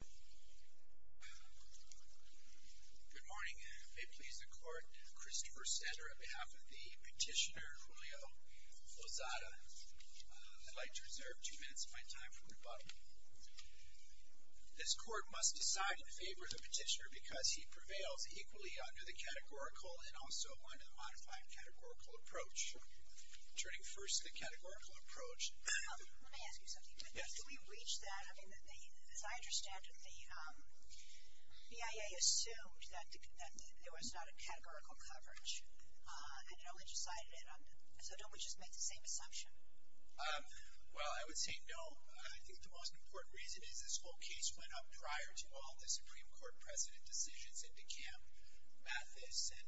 Good morning. May it please the court, Christopher Sander on behalf of the petitioner Julio Lozada. I'd like to reserve two minutes of my time for rebuttal. This court must decide in favor of the petitioner because he prevails equally under the categorical and also under the modified categorical approach. Turning first to the categorical approach... Let me ask you something. Yes. Do we reach that? I mean, as I understand it, the BIA assumed that there was not a categorical coverage. And it only decided it under... So don't we just make the same assumption? Well, I would say no. I think the most important reason is this whole case went up prior to all the Supreme Court president decisions and to Cam Mathis and...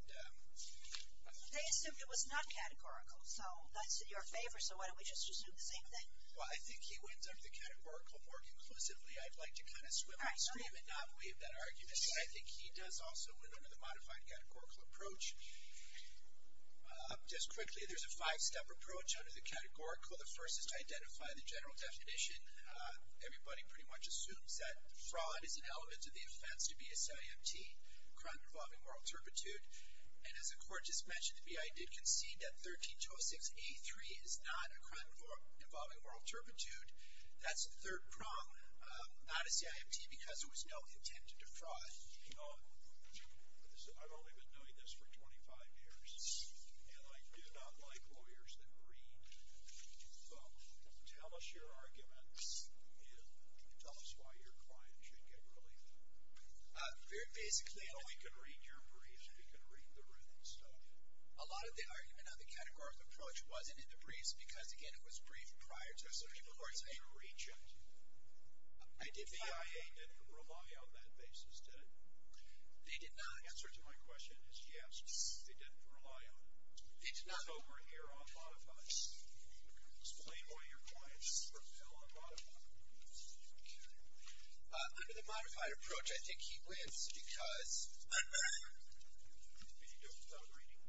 They assumed it was not categorical. So that's in your favor. So why don't we just assume the same thing? Well, I think he wins under the categorical more conclusively. I'd like to kind of swim and scream and not waive that argument. But I think he does also win under the modified categorical approach. Just quickly, there's a five-step approach under the categorical. The first is to identify the general definition. Everybody pretty much assumes that fraud is an element of the offense to BSIMT, crime involving moral turpitude. And as the Court just mentioned to me, I did concede that 1306A3 is not a crime involving moral turpitude. That's the third prong, not a CIMT because there was no intent to defraud. You know, I've only been doing this for 25 years, and I do not like lawyers that read. So tell us your arguments and tell us why your client should get relieved. Very basically... Well, he can read your brief. He can read the written stuff. A lot of the argument on the categorical approach wasn't in the briefs because, again, it was briefed prior to certain courts. Did you reach it? I did reach it. The EIA didn't rely on that basis, did it? They did not. The answer to my question is yes, they didn't rely on it. They did not. So we're here on modified. Explain why your client is repelled on modified. Under the modified approach, I think he wins because... Could you do it without reading?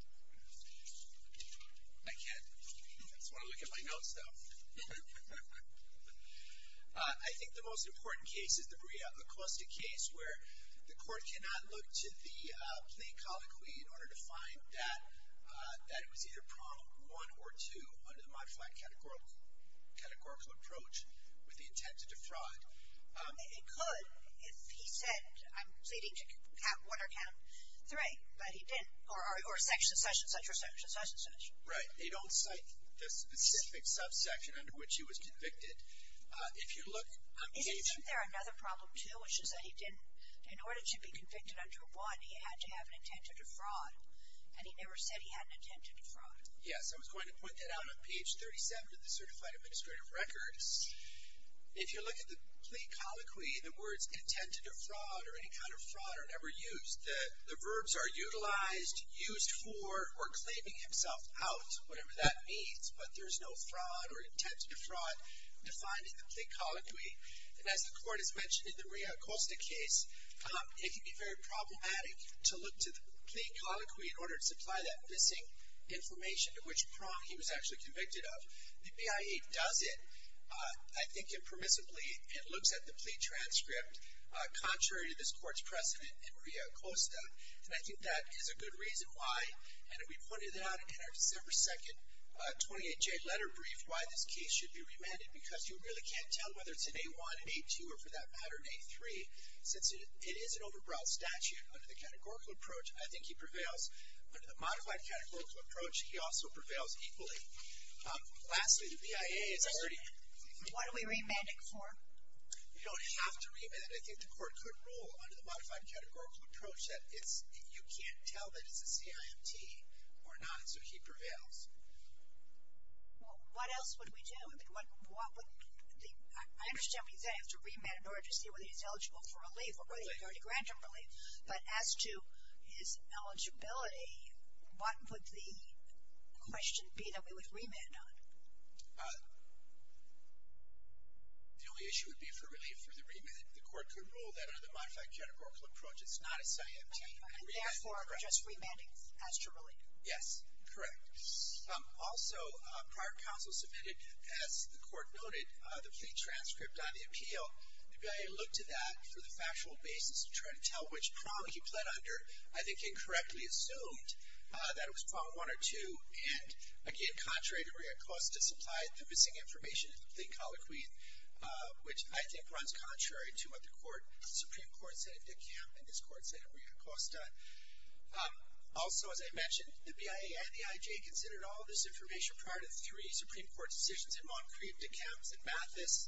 I can't. I just want to look at my notes, though. I think the most important case is the Brea Acoustic case where the court cannot look to the plain colloquy in order to find that it was either prong 1 or 2 under the modified categorical approach with the intent to defraud. It could if he said, I'm pleading to count 1 or count 3. But he didn't. Or section such and such or section such and such. Right. They don't cite the specific subsection under which he was convicted. If you look... Isn't there another problem, too, which is that he didn't, in order to be convicted under 1, he had to have an intent to defraud. And he never said he had an intent to defraud. Yes, I was going to point that out on page 37 of the Certified Administrative Records. If you look at the plain colloquy, the words intent to defraud or any kind of fraud are never used. The verbs are utilized, used for, or claiming himself out, whatever that means. But there's no fraud or intent to defraud defined in the plain colloquy. And as the court has mentioned in the Brea Acoustic case, it can be very problematic to look to the plain colloquy in order to supply that missing information. To which prong he was actually convicted of. The BIA does it, I think, impermissibly. It looks at the plea transcript contrary to this court's precedent in Brea Acoustic. And I think that is a good reason why. And we pointed out in our December 2nd 28J letter brief why this case should be remanded. Because you really can't tell whether it's an A1, an A2, or for that matter, an A3. Since it is an overbrow statute under the categorical approach, I think he prevails. Under the modified categorical approach, he also prevails equally. Lastly, the BIA is already. What are we remanding for? You don't have to remand it. I think the court could rule under the modified categorical approach that you can't tell that it's a CIMT or not. So he prevails. Well, what else would we do? I understand what you're saying. You have to remand in order to see whether he's eligible for relief or whether you're going to grant him relief. But as to his eligibility, what would the question be that we would remand on? The only issue would be for relief for the remand. The court could rule that under the modified categorical approach it's not a CIMT. And therefore, we're just remanding as to relief. Yes, correct. Also, prior counsel submitted, as the court noted, the plea transcript on the appeal. The BIA looked to that for the factual basis to try to tell which prong he pled under. I think incorrectly assumed that it was prong one or two. And, again, contrary to Ria Acosta, supplied the missing information in the plea colloquy, which I think runs contrary to what the Supreme Court said of DeKalb and this Court said of Ria Acosta. Also, as I mentioned, the BIA and the IJA considered all this information prior to the three Supreme Court decisions in Montcrieff, DeKalb, and Mathis.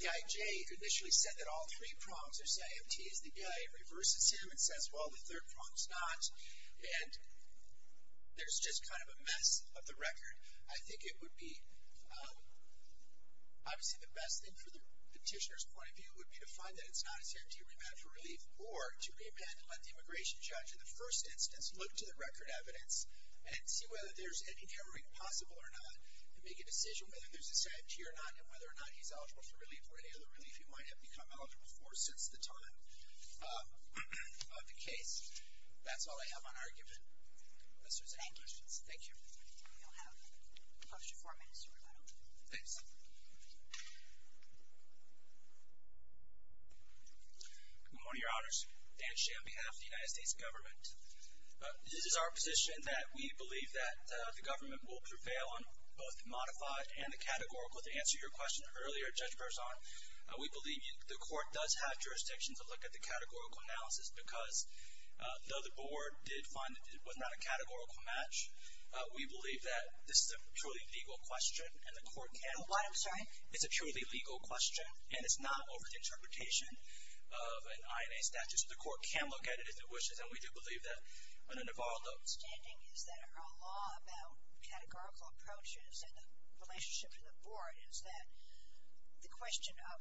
The IJA initially said that all three prongs are CIMT. The BIA reverses him and says, well, the third prong's not. And there's just kind of a mess of the record. I think it would be obviously the best thing from the petitioner's point of view would be to find that it's not a CIMT remand for relief or to remand and let the immigration judge in the first instance look to the record evidence and see whether there's any narrowing possible or not and make a decision whether there's a CIMT or not and whether or not he's eligible for relief or any other relief he might have become eligible for since the time of the case. That's all I have on our given questions. Thank you. We'll have close to four minutes to remain. Thanks. Good morning, Your Honors. Dan Shea on behalf of the United States Government. This is our position that we believe that the government will prevail on both the modified and the categorical, to answer your question earlier, Judge Berzon. We believe the court does have jurisdiction to look at the categorical analysis because though the board did find that it was not a categorical match, we believe that this is a truly legal question and the court can look at it. I'm sorry? It's a truly legal question, and it's not over the interpretation of an INA statute. The court can look at it if it wishes, and we do believe that. What I'm not understanding is that our law about categorical approaches and the relationship to the board is that the question of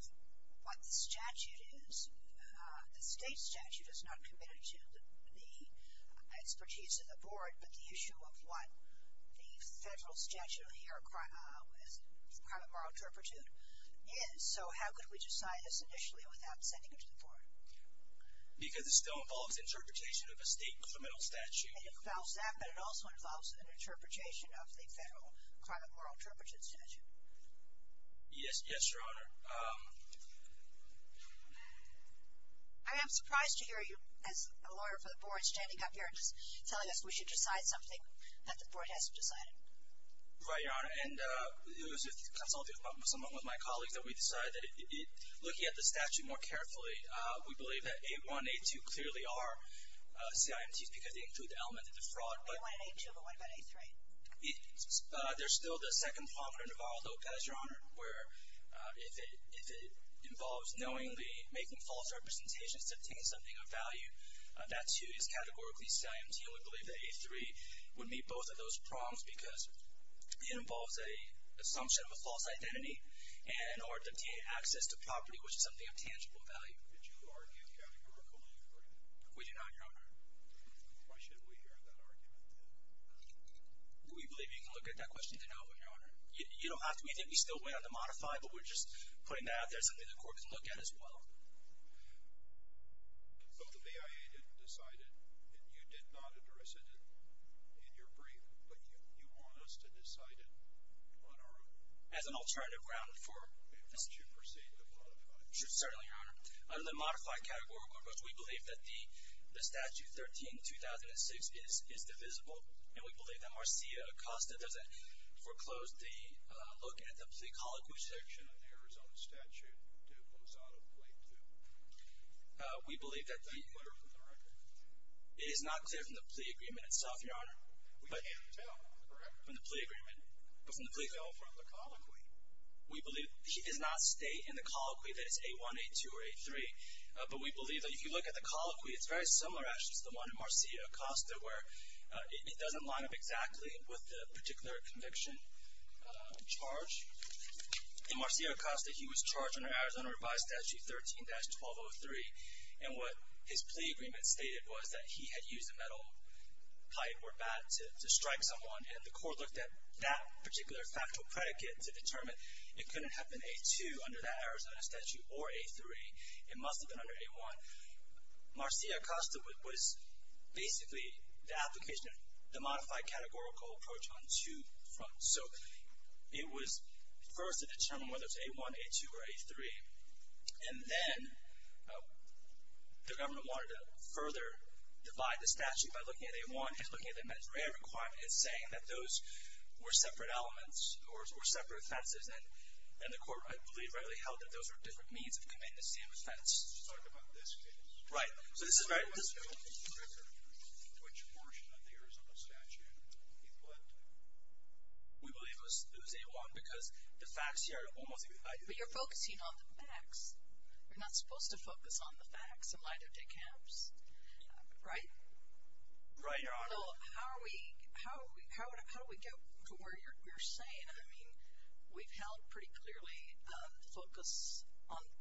what the statute is, the state statute is not committed to the expertise of the board, but the issue of what the federal statute here, as part of our interpretation, is. So how could we decide this initially without sending it to the board? Because it still involves interpretation of a state criminal statute. It involves that, but it also involves an interpretation of the federal crime of moral interpretation statute. Yes, Your Honor. I am surprised to hear you, as a lawyer for the board, standing up here and telling us we should decide something that the board hasn't decided. Right, Your Honor. And it was with consulting with someone, with my colleagues, that we decided that looking at the statute more carefully, we believe that A1 and A2 clearly are CIMTs because they include the element of defraud. A1 and A2, but what about A3? They're still the second prominent of all, though, guys, Your Honor, where if it involves knowingly making false representations to obtain something of value, that, too, is categorically CIMT. And we believe that A3 would meet both of those prongs because it involves an assumption of a false identity and or obtain access to property which is something of tangible value. Did you argue categorically, Your Honor? We did not, Your Honor. Why should we hear that argument? We believe you can look at that question to know, Your Honor. You don't have to. We think we still went on to modify, but we're just putting that out there as something the court can look at as well. But the BIA didn't decide it, and you did not address it in your brief, but you want us to decide it on our own. As an alternative ground for this. Why don't you proceed to modify it? Certainly, Your Honor. Under the modified category, we believe that the statute 13-2006 is divisible, and we believe that Marcia Acosta doesn't foreclose the look at the plea colloquy section. We believe that it is not clear from the plea agreement itself, Your Honor. From the plea agreement. We believe he does not state in the colloquy that it's A-1, A-2, or A-3. But we believe that if you look at the colloquy, it's very similar actually to the one in Marcia Acosta where it doesn't line up exactly with the particular conviction charge. In Marcia Acosta, he was charged under Arizona Revised Statute 13-1203, and what his plea agreement stated was that he had used a metal pipe or bat to strike someone, and the court looked at that particular factual predicate to determine it couldn't have been A-2 under that Arizona statute or A-3. It must have been under A-1. Marcia Acosta was basically the application of the modified categorical approach on two fronts. So it was first to determine whether it was A-1, A-2, or A-3, and then the government wanted to further divide the statute by looking at A-1 and looking at the measure and requirement and saying that those were separate elements or separate offenses, and the court, I believe, readily held that those were different means of committing the same offense. You're talking about this case. Right. So this is very different. Which portion of the Arizona statute you believe was A-1 because the facts here are almost exactly the same. But you're focusing on the facts. You're not supposed to focus on the facts in light of decams, right? Right, Your Honor. So how do we get to where you're saying? I mean, we've held pretty clearly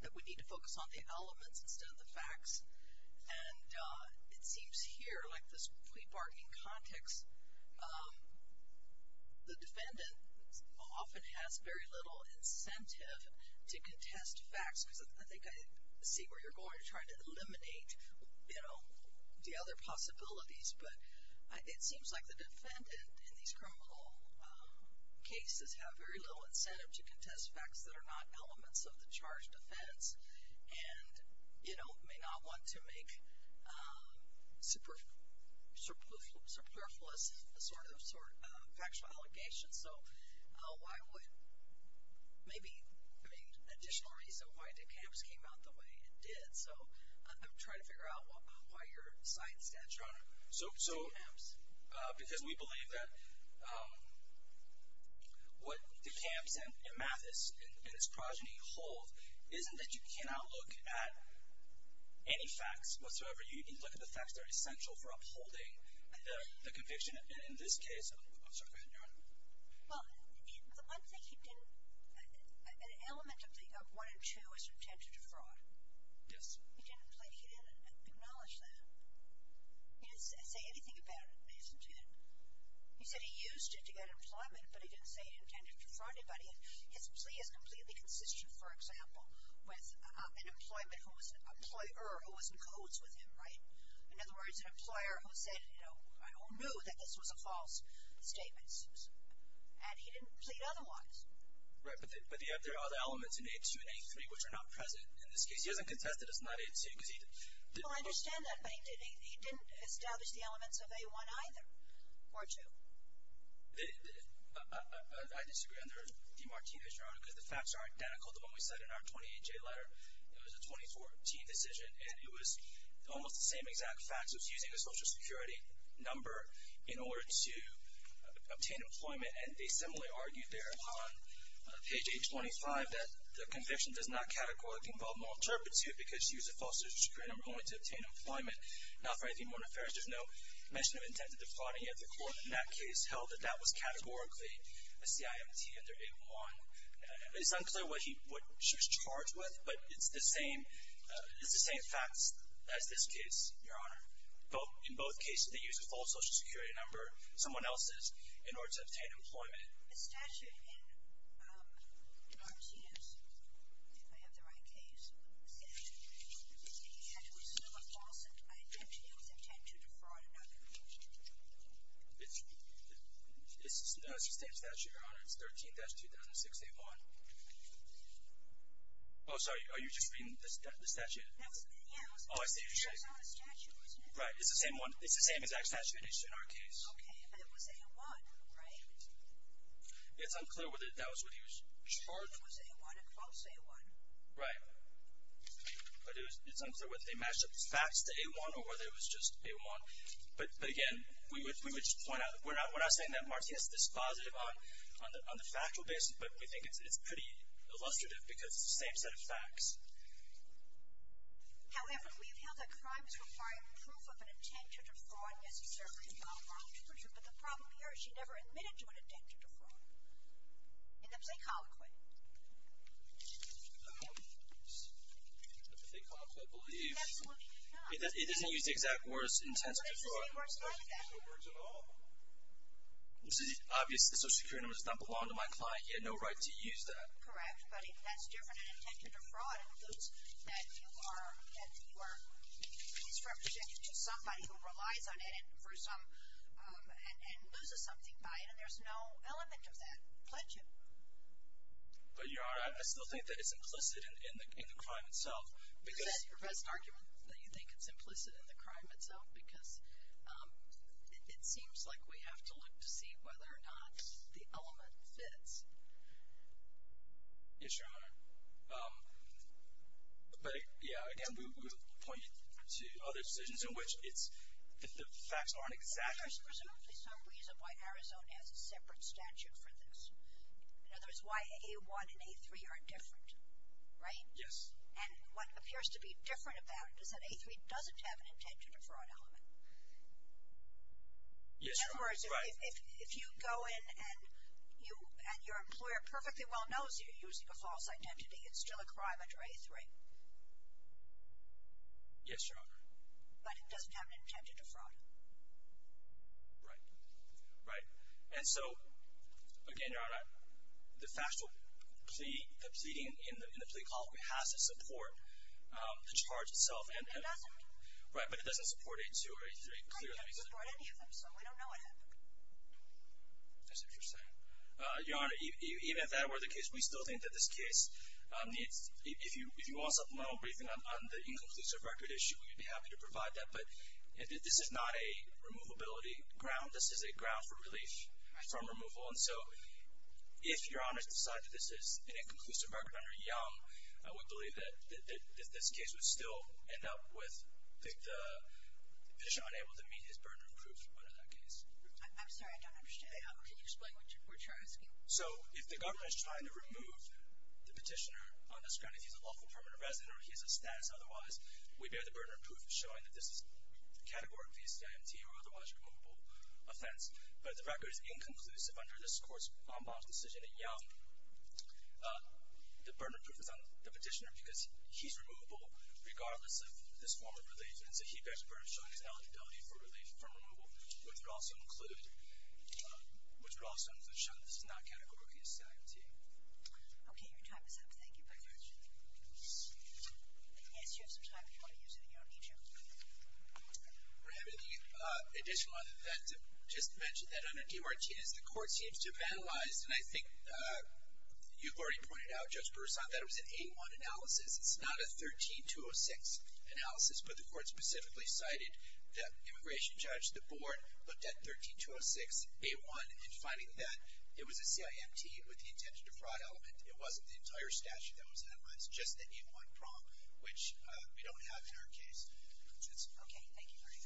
that we need to focus on the elements instead of the facts, and it seems here, like this plea bargain context, the defendant often has very little incentive to contest facts because I think I see where you're going to try to eliminate, you know, the other possibilities, but it seems like the defendant in these criminal cases have very little incentive to contest facts that are not elements of the charge defense and, you know, may not want to make superfluous sort of factual allegations. So why would maybe, I mean, an additional reason why decams came out the way it did. So I'm trying to figure out why you're citing statute on decams. Because we believe that what decams and amethysts and its progeny hold isn't that you cannot look at any facts whatsoever. You need to look at the facts that are essential for upholding the conviction in this case. I'm sorry, go ahead, Your Honor. Well, the one thing he didn't, an element of the one and two is from tension to fraud. Yes. He didn't acknowledge that. He didn't say anything about it. He said he used it to get employment, but he didn't say he intended to fraud anybody. His plea is completely consistent, for example, with an employer who was in codes with him, right? In other words, an employer who said, you know, I don't know that this was a false statement. And he didn't plead otherwise. Right, but there are other elements in A2 and A3 which are not present in this case. He hasn't contested as not A2 because he didn't. Well, I understand that, but he didn't establish the elements of A1 either, or two. I disagree under the Martinez, Your Honor, because the facts are identical to what we said in our 28-J letter. It was a 24-T decision, and it was almost the same exact facts. It was using a Social Security number in order to obtain employment, and they similarly argued there on page 825 that the conviction does not categorically involve interpret to because she used a false Social Security number only to obtain employment, not for anything more nefarious. There's no mention of intent of defrauding of the court in that case. Held that that was categorically a CIMT under A1. It's unclear what she was charged with, but it's the same facts as this case, Your Honor. In both cases, they used a false Social Security number, someone else's, in order to obtain employment. The statute in Martinez, if I have the right case, said that he had to assume a false intent to defraud another. It's the same statute, Your Honor. It's 13-2006-A1. Oh, sorry. Are you just reading the statute? Yes. Oh, I see what you're saying. It was on the statute, wasn't it? Right. It's the same one. It's the same exact statute as in our case. Okay, but it was A1, right? It's unclear whether that was what he was charged with. It was A1, a false A1. Right. But it's unclear whether they matched up the facts to A1 or whether it was just A1. But again, we would just point out that we're not saying that Martinez is dispositive on the factual basis, but we think it's pretty illustrative because it's the same set of facts. However, we have held that crime is required proof of an intent to defraud necessarily involved. But the problem here is she never admitted to an intent to defraud. In the plea colloquy. In the plea colloquy, I believe, it doesn't use the exact words, intent to defraud. It doesn't use the exact words at all. This is obvious. The social security number does not belong to my client. He had no right to use that. Correct, but that's different. An intent to defraud includes that you are misrepresenting to somebody who relies on it for some, and loses something by it, and there's no element of that. Pledge it. But Your Honor, I still think that it's implicit in the crime itself. Is that your best argument, that you think it's implicit in the crime itself? Because it seems like we have to look to see whether or not the element fits. Yes, Your Honor. But, yeah, again, we would point to other decisions in which it's, if the facts aren't exact. There's presumably some reason why Arizona has a separate statute for this. In other words, why A1 and A3 are different. Right? Yes. And what appears to be different about it is that A3 doesn't have an intent to defraud element. Yes, Your Honor. In other words, if you go in and your employer perfectly well knows you're using a false identity, it's still a crime under A3. Yes, Your Honor. But it doesn't have an intent to defraud. Right. Right. And so, again, Your Honor, the factual plea, the pleading in the plea call has to support the charge itself. It doesn't. Right, but it doesn't support A2 or A3, clearly. Right, it doesn't support any of them, so we don't know what happened. That's interesting. Your Honor, even if that were the case, we still think that this case, if you want something on the inconclusive record issue, we'd be happy to provide that. But this is not a removability ground. This is a ground for relief from removal. Right. And so, if Your Honor decides that this is an inconclusive record under Young, I would believe that this case would still end up with the petitioner unable to meet his burden of proof under that case. I'm sorry, I don't understand. Can you explain what you're asking? So, if the governor is trying to remove the petitioner on this ground, if he's a lawful permanent resident or he has a status otherwise, we bear the burden of proof showing that this is categorically a stat empty or otherwise removable offense. But the record is inconclusive under this Court's en banc decision in Young. The burden of proof is on the petitioner because he's removable regardless of this form of relief, and so he bears the burden of showing his ineligibility for relief from removal, which would also show that this is not categorically a stat empty. Okay, your time is up. Thank you very much. Yes, you have some time before you use it in your own details. We're having an additional event. Just to mention that under DeMartinez, the Court seems to have analyzed, and I think you've already pointed out, Judge Broussard, that it was an A-1 analysis. It's not a 13-206 analysis, but the Court specifically cited the immigration judge, the board, looked at 13-206, A-1, and finding that it was a CIMT with the intention to fraud element. It wasn't the entire statute that was analyzed, just the A-1 prompt, which we don't have in our case. Okay, thank you very much. Thank you.